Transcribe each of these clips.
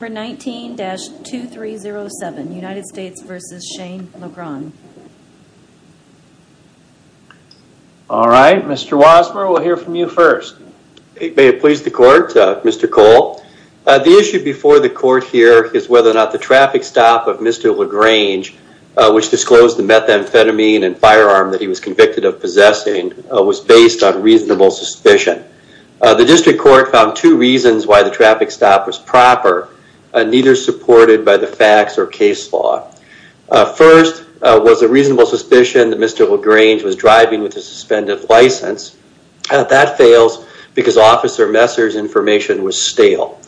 Number 19-2307, United States v. Shane LaGrange Alright, Mr. Wasmer, we'll hear from you first. May it please the court, Mr. Cole. The issue before the court here is whether or not the traffic stop of Mr. LaGrange, which disclosed the methamphetamine and firearm that he was convicted of possessing, was based on reasonable suspicion. The district court found two reasons why the traffic stop was proper, neither supported by the facts or case law. First, was a reasonable suspicion that Mr. LaGrange was driving with a suspended license. That fails because Officer Messer's information was stale.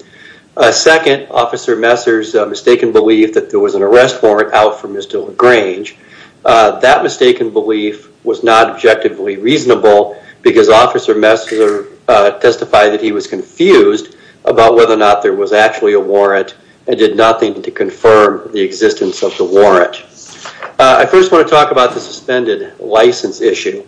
Second, Officer Messer's mistaken belief that there was an arrest warrant out for Mr. LaGrange. That mistaken belief was not objectively reasonable because Officer Messer testified that he was confused about whether or not there was actually a warrant and did nothing to confirm the existence of the warrant. I first want to talk about the suspended license issue.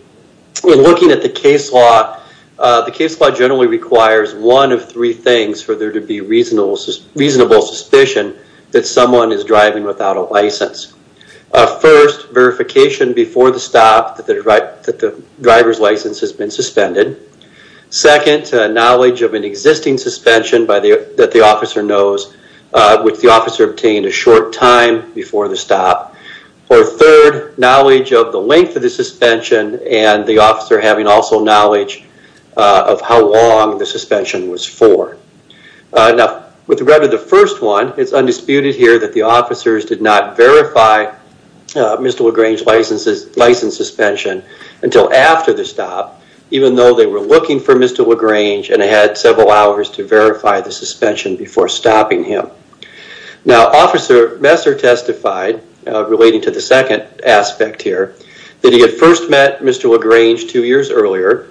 In looking at the case law, the case law generally requires one of three things for there to be reasonable suspicion that someone is driving without a license. First, verification before the stop that the driver's license has been suspended. Second, knowledge of an existing suspension that the officer knows, which the officer obtained a short time before the stop. Or third, knowledge of the length of the suspension and the officer having also knowledge of how long the suspension was for. Now, with regard to the first one, it's undisputed here that the officers did not verify Mr. LaGrange's license suspension until after the stop, even though they were looking for Mr. LaGrange and had several hours to verify the suspension before stopping him. Now, Officer Messer testified, relating to the second aspect here, that he had first met Mr. LaGrange two years earlier.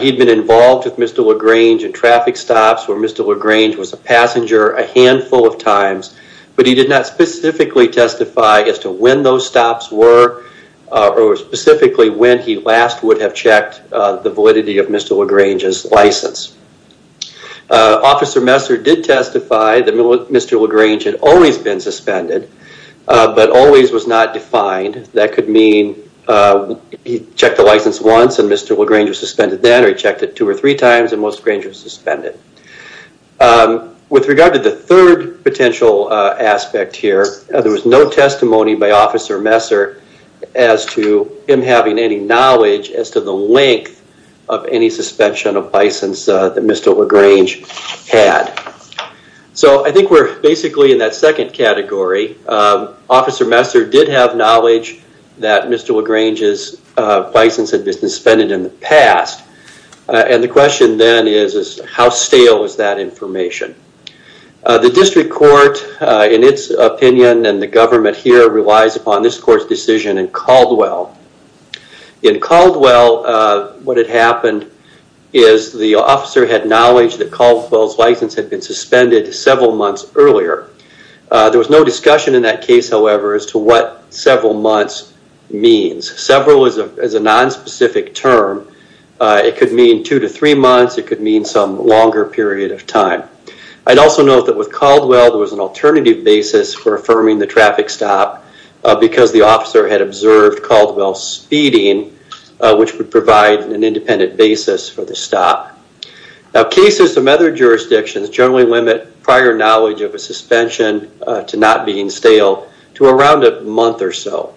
He'd been involved with Mr. LaGrange at traffic stops where Mr. LaGrange was a passenger a handful of times, but he did not specifically testify as to when those stops were or specifically when he last would have checked the validity of Mr. LaGrange's license. Officer Messer did testify that Mr. LaGrange had always been suspended, but always was not defined. That could mean he checked the license once and Mr. LaGrange was suspended then, or he checked it two or three times and Mr. LaGrange was suspended. With regard to the third potential aspect here, there was no testimony by Officer Messer as to him having any knowledge as to the length of any suspension of license that Mr. LaGrange had. So I think we're basically in that second category. Officer Messer did have knowledge that Mr. LaGrange's license had been suspended in the past, and the question then is how stale is that information? The district court, in its opinion and the government here, relies upon this court's decision in Caldwell. In Caldwell, what had happened is the officer had knowledge that Caldwell's license had been suspended several months earlier. There was no discussion in that case, however, as to what several months means. Several is a nonspecific term. It could mean two to three months. It could mean some longer period of time. I'd also note that with Caldwell, there was an alternative basis for affirming the traffic stop because the officer had observed Caldwell speeding, which would provide an independent basis for the stop. Now, cases in other jurisdictions generally limit prior knowledge of a suspension to not being stale to around a month or so.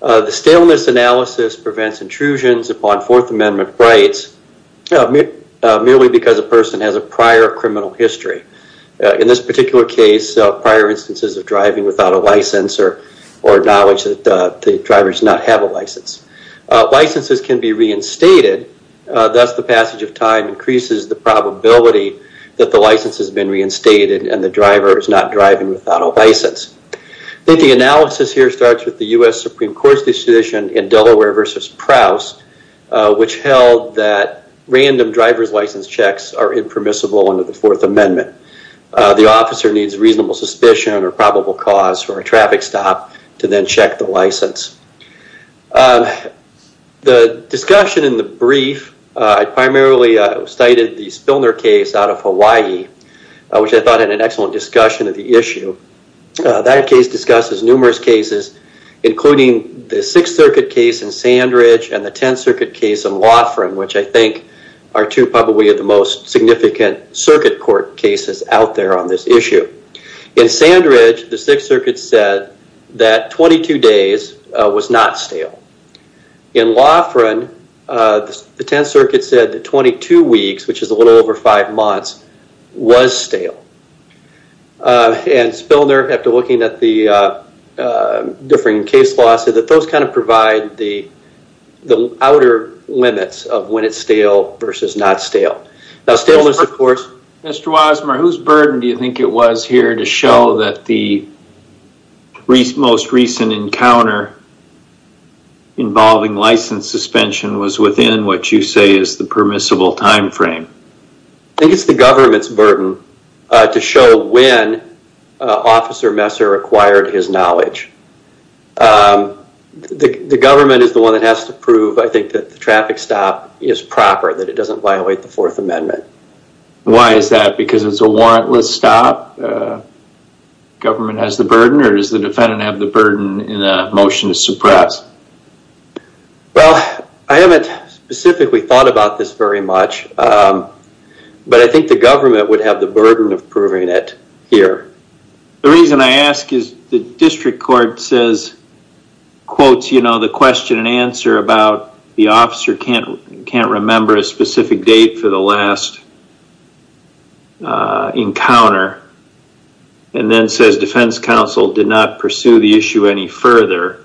The staleness analysis prevents intrusions upon Fourth Amendment rights merely because a person has a prior criminal history. In this particular case, prior instances of driving without a license or knowledge that the driver does not have a license. Licenses can be reinstated, thus the passage of time increases the probability that the license has been reinstated and the driver is not driving without a license. I think the analysis here starts with the U.S. Supreme Court's decision in Delaware versus Prowse, which held that random driver's license checks are impermissible under the Fourth Amendment. The officer needs reasonable suspicion or probable cause for a traffic stop to then The discussion in the brief, I primarily cited the Spilner case out of Hawaii, which I thought had an excellent discussion of the issue. That case discusses numerous cases, including the Sixth Circuit case in Sandridge and the Tenth Circuit case in Loughran, which I think are two probably of the most significant circuit court cases out there on this issue. In Sandridge, the Sixth Circuit said that 22 days was not stale. In Loughran, the Tenth Circuit said that 22 weeks, which is a little over five months, was stale. And Spilner, after looking at the different case laws, said that those kind of provide the outer limits of when it's stale versus not stale. Now, Stilner's, of course... Mr. Wasmar, whose burden do you think it was here to show that the most recent encounter involving license suspension was within what you say is the permissible time frame? I think it's the government's burden to show when Officer Messer acquired his knowledge. The government is the one that has to prove, I think, that the traffic stop is proper, that it doesn't violate the Fourth Amendment. Why is that? Because it's a warrantless stop? Government has the burden, or does the defendant have the burden in a motion to suppress? Well, I haven't specifically thought about this very much, but I think the government would have the burden of proving it here. The reason I ask is the district court says, quotes the question and answer about the officer can't remember a specific date for the last encounter, and then says defense counsel did not pursue the issue any further,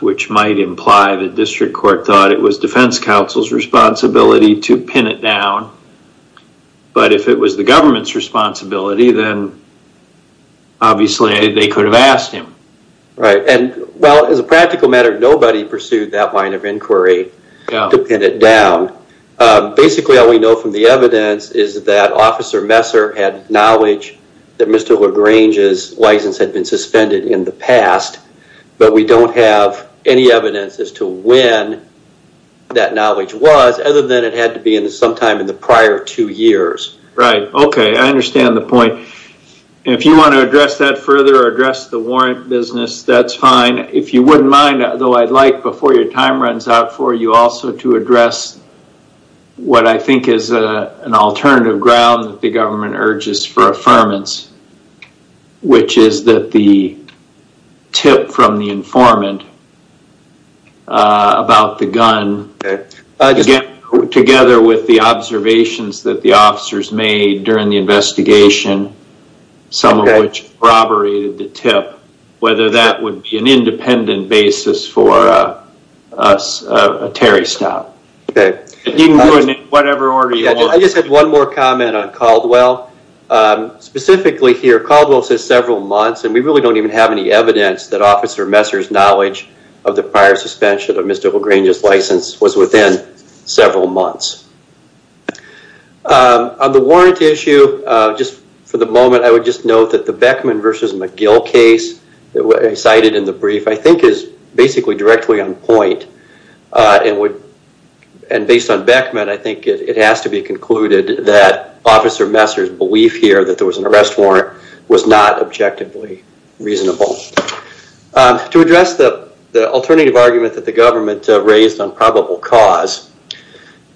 which might imply the district court thought it was defense counsel's responsibility to pin it down. But if it was the government's responsibility, then obviously they could have asked him. Right. And well, as a practical matter, nobody pursued that line of inquiry to pin it down. Basically, all we know from the evidence is that Officer Messer had knowledge that Mr. LaGrange's license had been suspended in the past, but we don't have any evidence as to when that knowledge was, other than it had to be sometime in the prior two years. Right. Okay. I understand the point. If you want to address that further or address the warrant business, that's fine. If you wouldn't mind, though, I'd like before your time runs out for you also to address what I think is an alternative ground that the government urges for affirmance, which is that the tip from the informant about the gun, again, together with the observations that the officers made during the investigation, some of which corroborated the tip, whether that would be an independent basis for a Terry stop. Okay. Whatever order you want. I just had one more comment on Caldwell. Specifically here, Caldwell says several months, and we really don't even have any evidence that prior suspension of Mr. LaGrange's license was within several months. On the warrant issue, just for the moment, I would just note that the Beckman versus McGill case that I cited in the brief, I think is basically directly on point. And based on Beckman, I think it has to be concluded that Officer Messer's belief here that there was an arrest warrant was not objectively reasonable. To address the alternative argument that the government raised on probable cause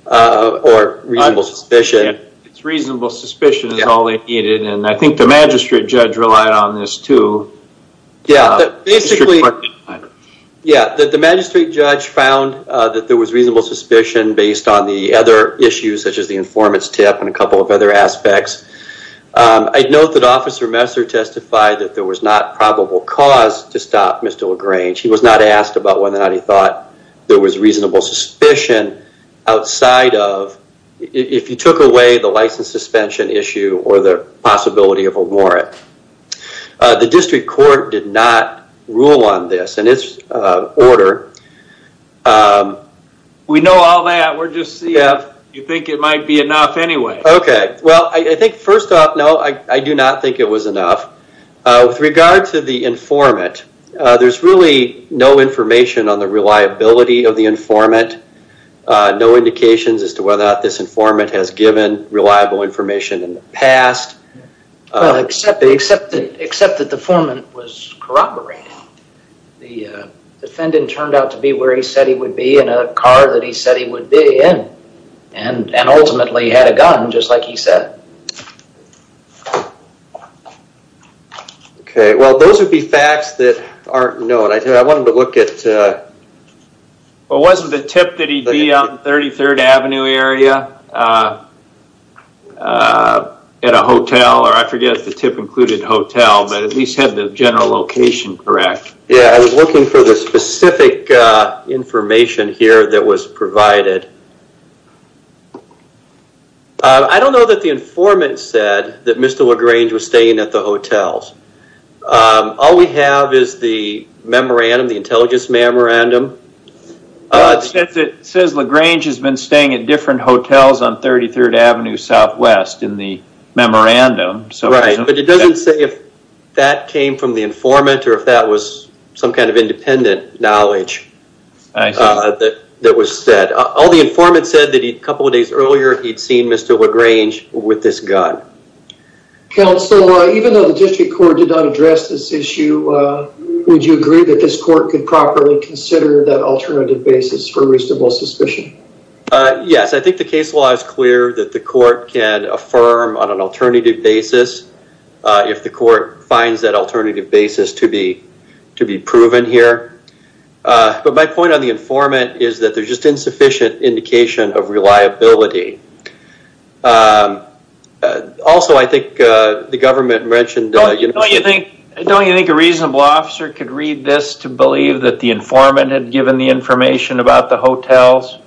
or reasonable suspicion. It's reasonable suspicion is all they needed. And I think the magistrate judge relied on this too. Yeah. The magistrate judge found that there was reasonable suspicion based on the other issues such as the informant's tip and a couple of other aspects. I'd note that Officer Messer testified that there was not probable cause to stop Mr. LaGrange. He was not asked about whether or not he thought there was reasonable suspicion outside of if you took away the license suspension issue or the possibility of a warrant. The district court did not rule on this and its order. We know all that. We're just seeing if you think it might be enough anyway. Okay. Well, I think first off, no, I do not think it was enough. With regard to the informant, there's really no information on the reliability of the informant. No indications as to whether or not this informant has given reliable information in the past. Except that the informant was corroborating. The defendant turned out to be where he said he would be in a car that he said he would be in. And ultimately, he had a gun just like he said. Okay. Well, those would be facts that aren't known. I wanted to look at... Well, wasn't the tip that he'd be on 33rd Avenue area at a hotel? Or I forget if the tip included hotel, but at least had the general location correct. Yeah, I was looking for the specific information here that was provided. Okay. I don't know that the informant said that Mr. LaGrange was staying at the hotels. All we have is the memorandum, the intelligence memorandum. It says LaGrange has been staying at different hotels on 33rd Avenue Southwest in the memorandum. Right, but it doesn't say if that came from the informant or if that was some kind of independent knowledge that was said. All the informant said that a couple of days earlier, he'd seen Mr. LaGrange with this gun. Counsel, even though the district court did not address this issue, would you agree that this court could properly consider that alternative basis for reasonable suspicion? Yes, I think the case law is clear that the court can affirm on an alternative basis if the court finds that alternative basis to be proven here. But my point on the informant is that there's just insufficient indication of reliability. Also, I think the government mentioned- Don't you think a reasonable officer could read this to believe that the informant had given the information about the hotels?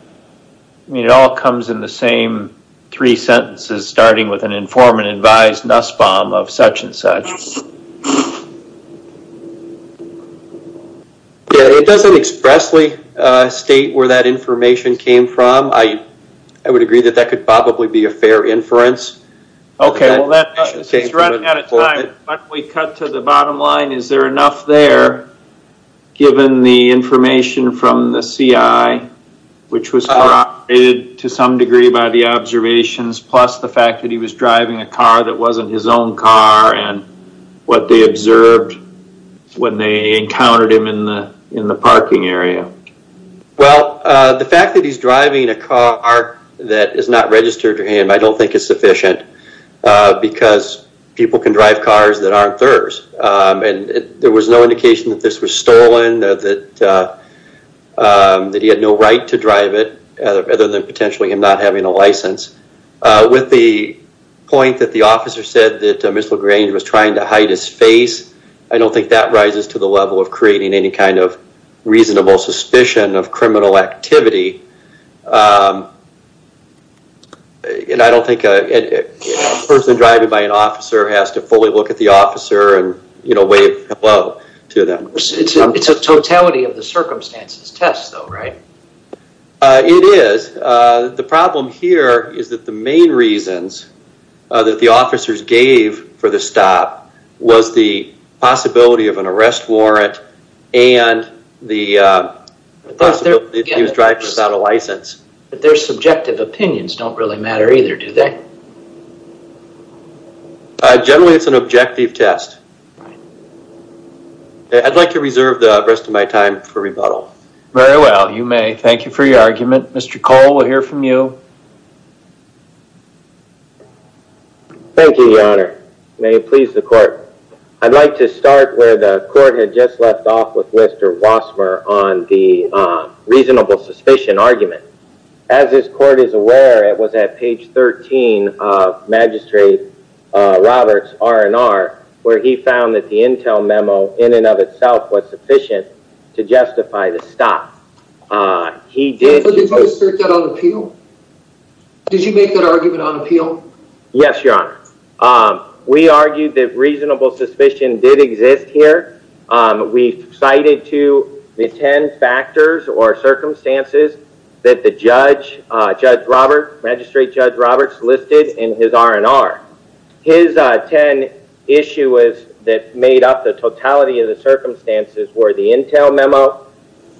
I mean, it all comes in the same three sentences, starting with an informant advised Nussbaum of such and such. It doesn't expressly state where that information came from. I would agree that that could probably be a fair inference. Okay, well, that's running out of time, but we cut to the bottom line. Is there enough there, given the information from the CI, which was corroborated to some degree by the observations, plus the fact that he was driving a car that wasn't his own car, and what they observed when they encountered him in the parking area? Well, the fact that he's driving a car that is not registered to him, I don't think is sufficient because people can drive cars that aren't theirs. There was no indication that this was stolen, that he had no right to drive it, other than potentially him not having a license. With the point that the officer said that Mr. LaGrange was trying to hide his face, I don't think that rises to the level of creating any kind of reasonable suspicion of criminal activity. I don't think a person driving by an officer has to fully look at the officer and wave hello to them. It's a totality of the circumstances test, though, right? It is. The problem here is that the main reasons that the officers gave for the stop was the possibility of an arrest warrant and the possibility that he was driving without a license. But their subjective opinions don't really matter either, do they? Generally, it's an objective test. I'd like to reserve the rest of my time for rebuttal. Very well. You may. Thank you for your argument, Mr. Cole. We'll hear from you. Thank you, Your Honor. May it please the court. I'd like to start where the court had just left off with Mr. Wassmer on the reasonable suspicion argument. As this court is aware, it was at page 13 of Magistrate Roberts' R&R, where he found that the intel memo in and of itself was sufficient to justify the stop. He did... Did you make that argument on appeal? Yes, Your Honor. We argued that reasonable suspicion did exist here. We cited to the 10 factors or circumstances that the judge, Judge Roberts, Magistrate Judge Roberts listed in his R&R. His 10 issues that made up the totality of the circumstances were the intel memo,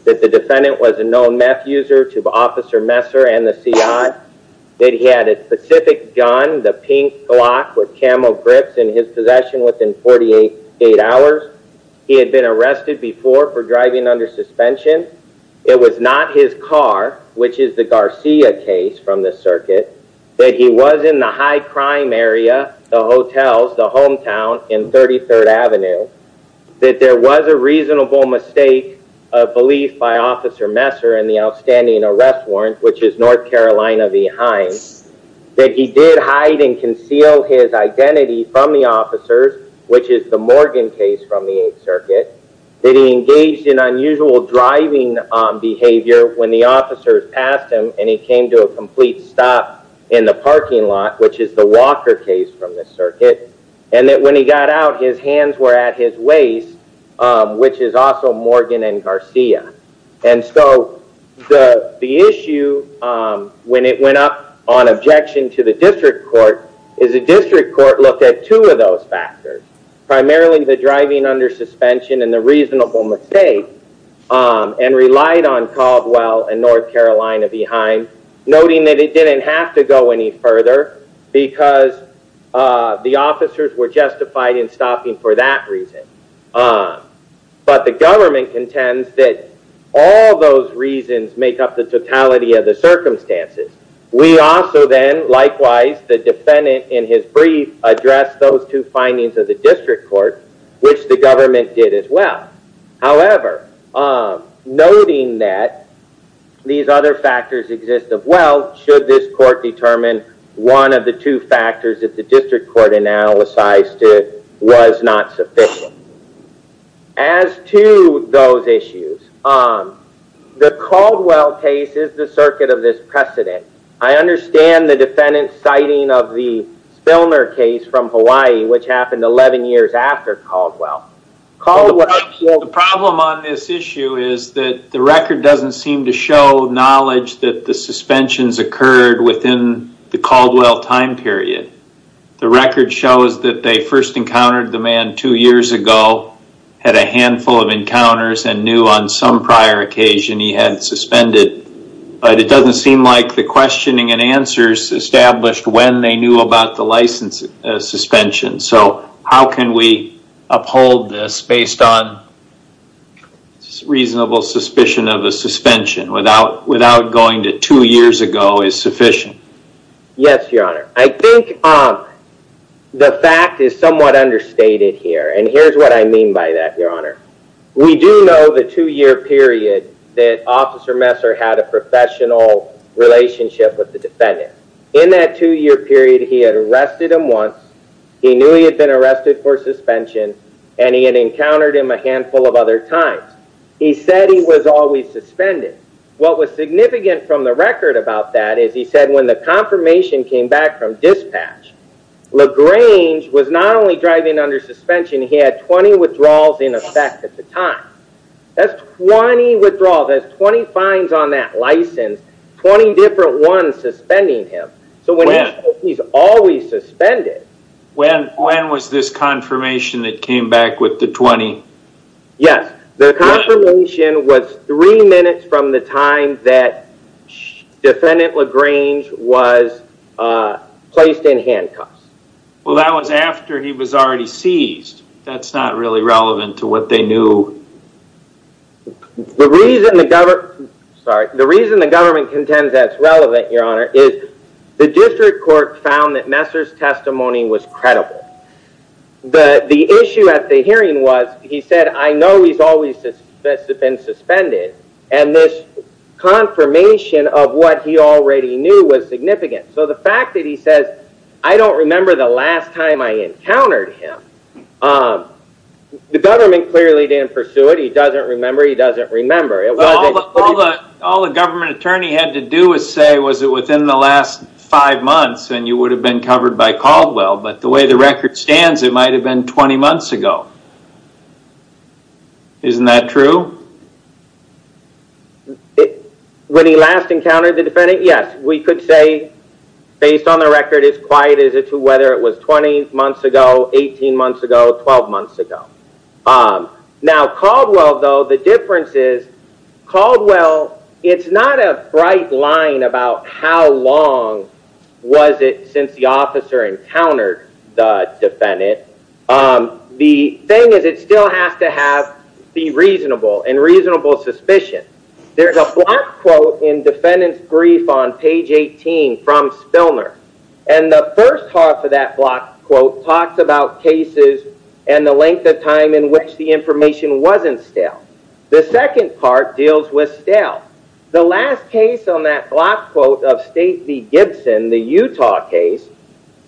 that the defendant was a known meth user to Officer Messer and the C.I., that he had a specific gun, the pink Glock with camo grips in his possession within 48 hours. He had been arrested before for driving under suspension. It was not his car, which is the Garcia case from the circuit, that he was in the high crime area, the hotels, the hometown in 33rd Avenue, that there was a reasonable mistake of belief by Officer Messer in the outstanding arrest warrant, which is North Carolina v. Hines, that he did hide and conceal his identity from the officers, which is the Morgan case from the 8th Circuit, that he engaged in unusual driving behavior when the officers passed him and he came to a complete stop in the parking lot, which is the Walker case from the circuit, and that when he got out, his hands were at his waist, which is also Morgan and Garcia. And so the issue, when it went up on objection to the District Court, is the District Court looked at two of those factors, primarily the driving under suspension and the reasonable mistake, and relied on Caldwell and North Carolina v. Hines, noting that it didn't have to go any further because the officers were justified in stopping for that reason. But the government contends that all those reasons make up the totality of the circumstances. We also then, likewise, the defendant, in his brief, addressed those two findings of the District Court, which the government did as well. However, noting that these other factors exist as well, should this court determine one of the two factors that the District Court analyzed was not sufficient. As to those issues, the Caldwell case is the circuit of this precedent. I understand the defendant's citing of the Spilner case from Hawaii, which happened 11 years after Caldwell. The problem on this issue is that the record doesn't seem to show knowledge that the suspensions occurred within the Caldwell time period. The record shows that they first encountered the man two years ago, had a handful of encounters, and knew on some prior occasion he had suspended. But it doesn't seem like the questioning and answers established when they knew about the license suspension. So how can we uphold this based on reasonable suspicion of a suspension without going to two years ago is sufficient? Yes, Your Honor. I think the fact is somewhat understated here. And here's what I mean by that, Your Honor. We do know the two-year period that Officer Messer had a professional relationship with the defendant. In that two-year period, he had arrested him once, he knew he had been arrested for suspension, and he had encountered him a handful of other times. He said he was always suspended. What was significant from the record about that is he said when the confirmation came back from dispatch, LaGrange was not only driving under suspension, he had 20 withdrawals in effect at the time. That's 20 withdrawals. That's 20 fines on that license, 20 different ones suspending him. So when he says he's always suspended... When was this confirmation that came back with the 20? Yes, the confirmation was three minutes from the time that Defendant LaGrange was placed in handcuffs. Well, that was after he was already seized. That's not really relevant to what they knew. The reason the government... Sorry. The reason the government contends that's relevant, Your Honor, is the district court found that Messer's testimony was credible. But the issue at the hearing was he said, I know he's always been suspended, and this confirmation of what he already knew was significant. So the fact that he says, I don't remember the last time I encountered him. The government clearly didn't pursue it. He doesn't remember. He doesn't remember. All the government attorney had to do was say, was it within the last five months and you would have been covered by Caldwell. But the way the record stands, it might have been 20 months ago. Isn't that true? When he last encountered the defendant, yes, we could say based on the record, as quiet as it to whether it was 20 months ago, 18 months ago, 12 months ago. Now, Caldwell though, the difference is Caldwell, it's not a bright line about how long was it since the officer encountered the defendant. The thing is it still has to be reasonable and reasonable suspicion. There's a block quote in defendant's brief on page 18 from Spilner. And the first half of that block quote talks about cases and the length of time in which the information wasn't stale. The second part deals with stale. The last case on that block quote of State v. Gibson, the Utah case,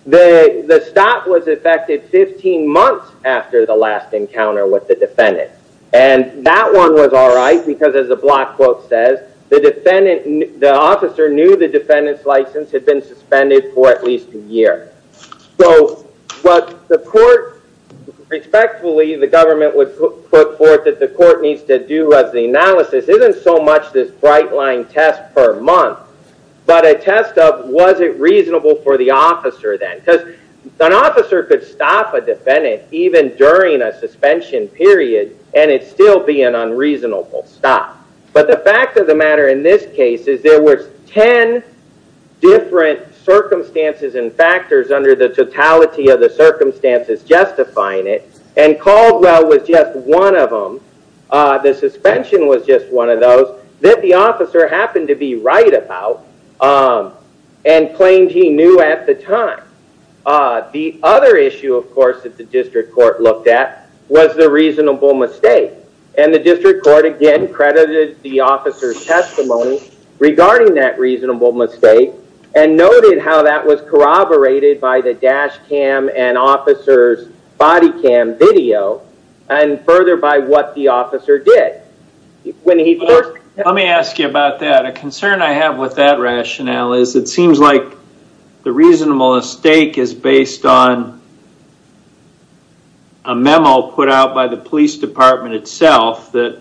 the stop was effected 15 months after the last encounter with the defendant. And that one was all right because as the block quote says, the officer knew the defendant's license had been suspended for at least a year. So what the court respectfully, the government would put forth that the court needs to do as the analysis isn't so much this bright line test per month, but a test of was it reasonable for the officer then. Because an officer could stop a defendant even during a suspension period and it still be an unreasonable stop. But the fact of the matter in this case is there were 10 different circumstances and factors under the totality of the circumstances justifying it. And Caldwell was just one of them. The suspension was just one of those that the officer happened to be right about and claimed he knew at the time. The other issue, of course, that the district court looked at was the reasonable mistake. And the district court again credited the officer's testimony regarding that reasonable mistake and noted how that was corroborated by the dash cam and officer's body cam video and further by what the officer did. When he first. Let me ask you about that. A concern I have with that rationale is it seems like the reasonable mistake is based on a memo put out by the police department itself that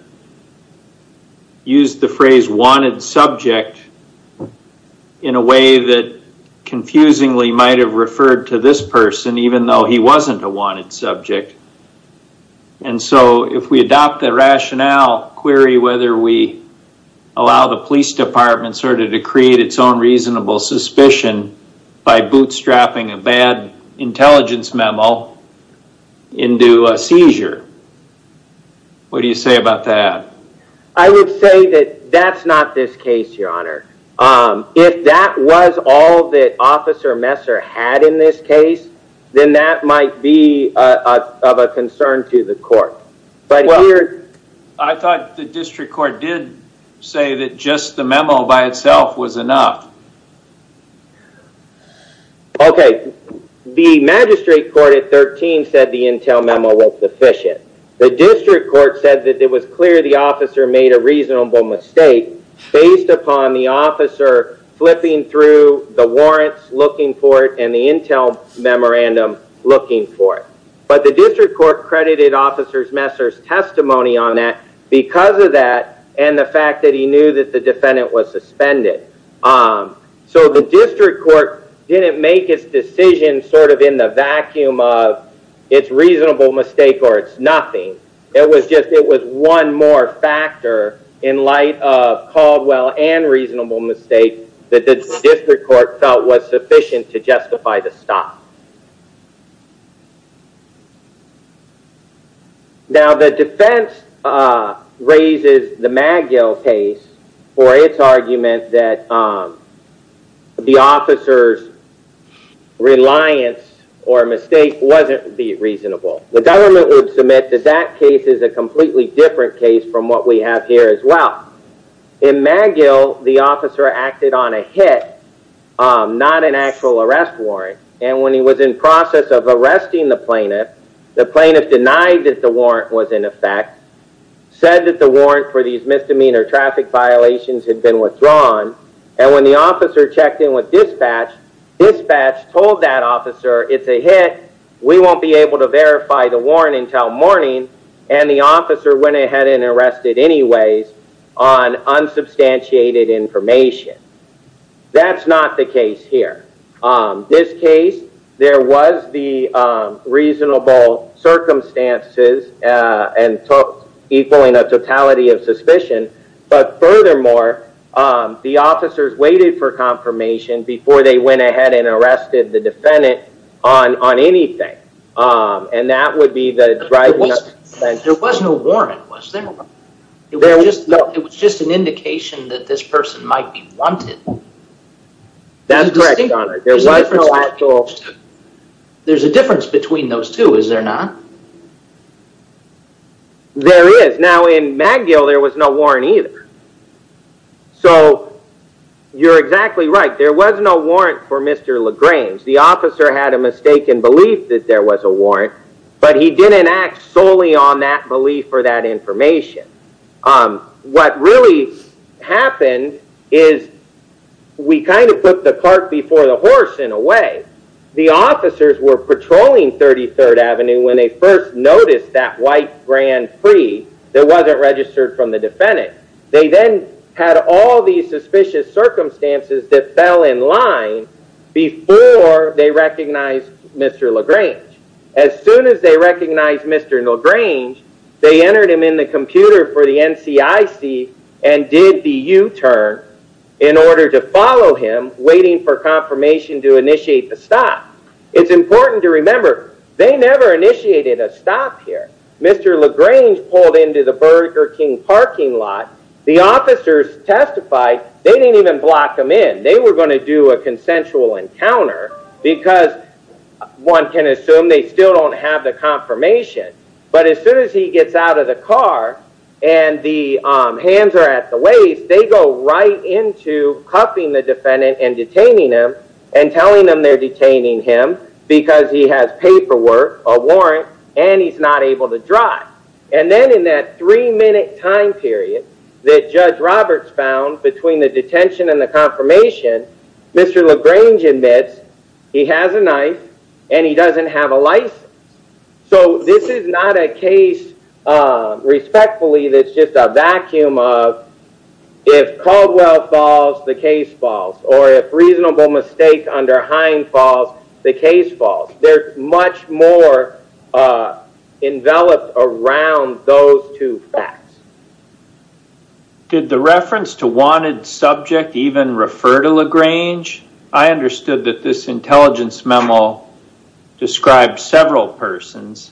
used the phrase wanted subject in a way that confusingly might have referred to this person even though he wasn't a wanted subject. And so if we adopt the rationale query whether we allow the police department to create its own reasonable suspicion by bootstrapping a bad intelligence memo into a seizure, what do you say about that? I would say that that's not this case, Your Honor. If that was all that Officer Messer had in this case, then that might be of a concern to the court. I thought the district court did say that just the memo by itself was enough. OK. The magistrate court at 13 said the intel memo was sufficient. The district court said that it was clear the officer made a reasonable mistake based upon the officer flipping through the warrants looking for it and the intel memorandum looking for it. But the district court credited Officer Messer's testimony on that because of that and the fact that he knew that the defendant was suspended. So the district court didn't make its decision sort of in the vacuum of it's a reasonable mistake or it's nothing. It was just it was one more factor in light of Caldwell and reasonable mistake that the district court felt was sufficient to justify the stop. Now, the defense raises the Magill case for its argument that the officer's reliance or mistake wasn't reasonable. The government would submit that that case is a completely different case from what we have here as well. In Magill, the officer acted on a hit, not an actual arrest warrant. And when he was in process of arresting the plaintiff, the plaintiff denied that the warrant was in effect, said that the warrant for these misdemeanor traffic violations had been withdrawn. And when the officer checked in with dispatch, dispatch told that officer it's a hit. We won't be able to verify the warrant until morning. And the officer went ahead and arrested anyways. Unsubstantiated information. That's not the case here. This case, there was the reasonable circumstances and equaling a totality of suspicion. But furthermore, the officers waited for confirmation before they went ahead and arrested the defendant on anything. And that would be the right. There was no warrant. Was there? It was just an indication that this person might be wanted. That's correct. There's a difference between those two, is there not? There is. Now, in Magill, there was no warrant either. So you're exactly right. There was no warrant for Mr. LaGrange. The officer had a mistaken belief that there was a warrant, but he didn't act solely on that belief or that information. What really happened is we kind of put the cart before the horse, in a way. The officers were patrolling 33rd Avenue when they first noticed that white Grand Prix that wasn't registered from the defendant. They then had all these suspicious circumstances that fell in line before they recognized Mr. LaGrange. As soon as they recognized Mr. LaGrange, they entered him in the computer for the NCIC and did the U-turn in order to follow him, waiting for confirmation to initiate the stop. It's important to remember, they never initiated a stop here. Mr. LaGrange pulled into the Burger King parking lot. The officers testified. They didn't even block him in. They were going to do a consensual encounter because one can assume they still don't have the confirmation. But as soon as he gets out of the car and the hands are at the waist, they go right into cuffing the defendant and detaining him and telling them they're detaining him because he has paperwork, a warrant, and he's not able to drive. And then in that three-minute time period that Judge Roberts found between the detention and the confirmation, Mr. LaGrange admits he has a knife and he doesn't have a license. So this is not a case, respectfully, that's just a vacuum of if Caldwell falls, the case falls, or if reasonable mistake under Hine falls, the case falls. They're much more enveloped around those two facts. Did the reference to wanted subject even refer to LaGrange? I understood that this intelligence memo described several persons,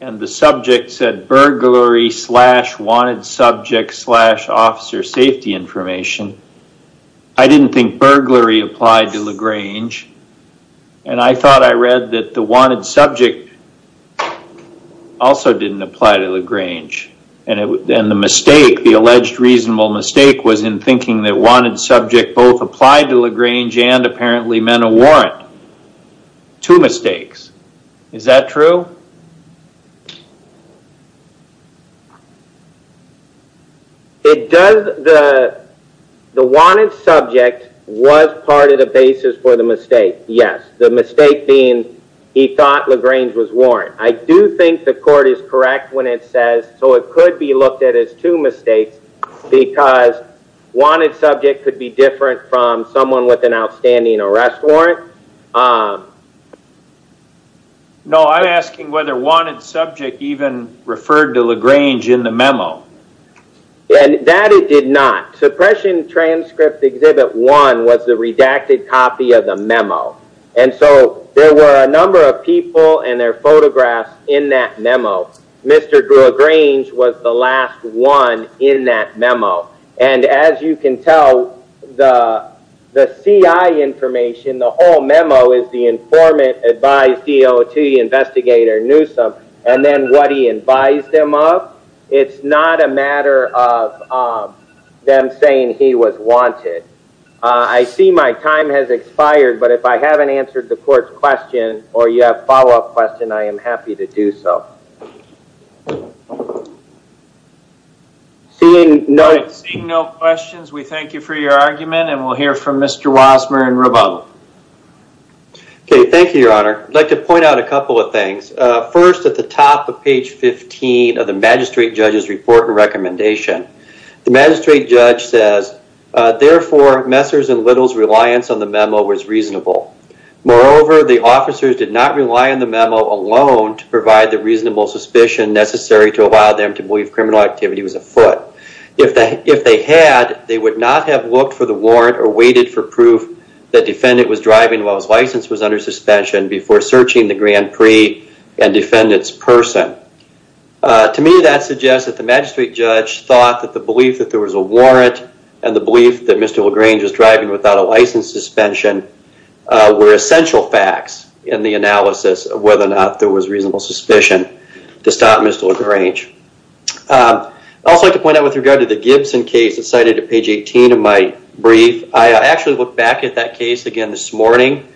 and the subject said burglary slash wanted subject slash officer safety information. I didn't think burglary applied to LaGrange, and I thought I read that the wanted subject also didn't apply to LaGrange. And the mistake, the alleged reasonable mistake, was in thinking that wanted subject both applied to LaGrange and apparently meant a warrant. Two mistakes. Is that true? It does. The wanted subject was part of the basis for the mistake, yes. The mistake being he thought LaGrange was warranted. I do think the court is correct when it says, so it could be looked at as two mistakes, because wanted subject could be different from someone with an outstanding arrest warrant. No, I'm asking whether wanted subject even referred to LaGrange in the memo. And that it did not. Suppression transcript exhibit one was the redacted copy of the memo. And so there were a number of people and their photographs in that memo. Mr. Drew LaGrange was the last one in that memo. And as you can tell, the CI information, the whole memo is the informant, advise, DOT, investigator, Newsom, and then what he advised them of. It's not a matter of them saying he was wanted. I see my time has expired. But if I haven't answered the court's question or you have a follow-up question, I am happy to do so. Seeing no questions, we thank you for your argument. And we'll hear from Mr. Wasmer and Roboto. OK, thank you, Your Honor. I'd like to point out a couple of things. First, at the top of page 15 of the magistrate judge's report and recommendation, the magistrate judge says, therefore, Messer's and Little's reliance on the memo was reasonable. Moreover, the officers did not rely on the memo alone to provide the reasonable suspicion necessary to allow them to believe criminal activity was afoot. If they had, they would not have looked for the warrant or waited for proof that defendant was driving while his license was under suspension before searching the Grand Prix and defendant's person. To me, that suggests that the magistrate judge thought that the belief that there was a warrant and the belief that Mr. LaGrange was driving without a license suspension were essential facts in the analysis of whether or not there was reasonable suspicion to stop Mr. LaGrange. I'd also like to point out with regard to the Gibson case that's cited at page 18 of my brief, I actually looked back at that case again this morning.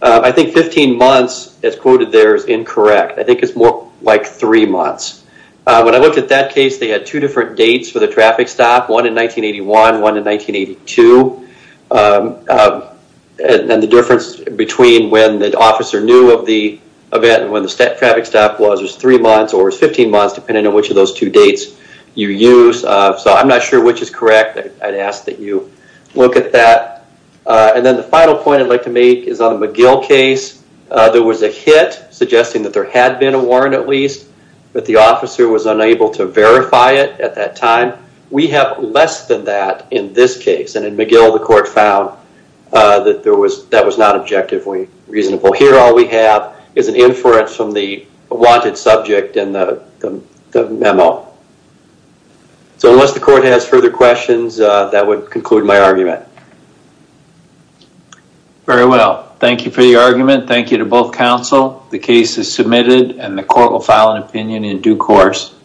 I think 15 months, as quoted there, is incorrect. I think it's more like three months. When I looked at that case, they had two different dates for the traffic stop, one in 1981, one in 1982. And the difference between when the officer knew of the event and when the traffic stop was was three months or was 15 months, depending on which of those two dates you use. So I'm not sure which is correct. I'd ask that you look at that. And then the final point I'd like to make is on the McGill case. There was a hit suggesting that there had been a warrant at least, but the officer was unable to verify it at that time. We have less than that in this case. And in McGill, the court found that that was not objectively reasonable. Here, all we have is an inference from the wanted subject in the memo. So unless the court has further questions, that would conclude my argument. Very well. Thank you for your argument. Thank you to both counsel. The case is submitted and the court will file an opinion in due course.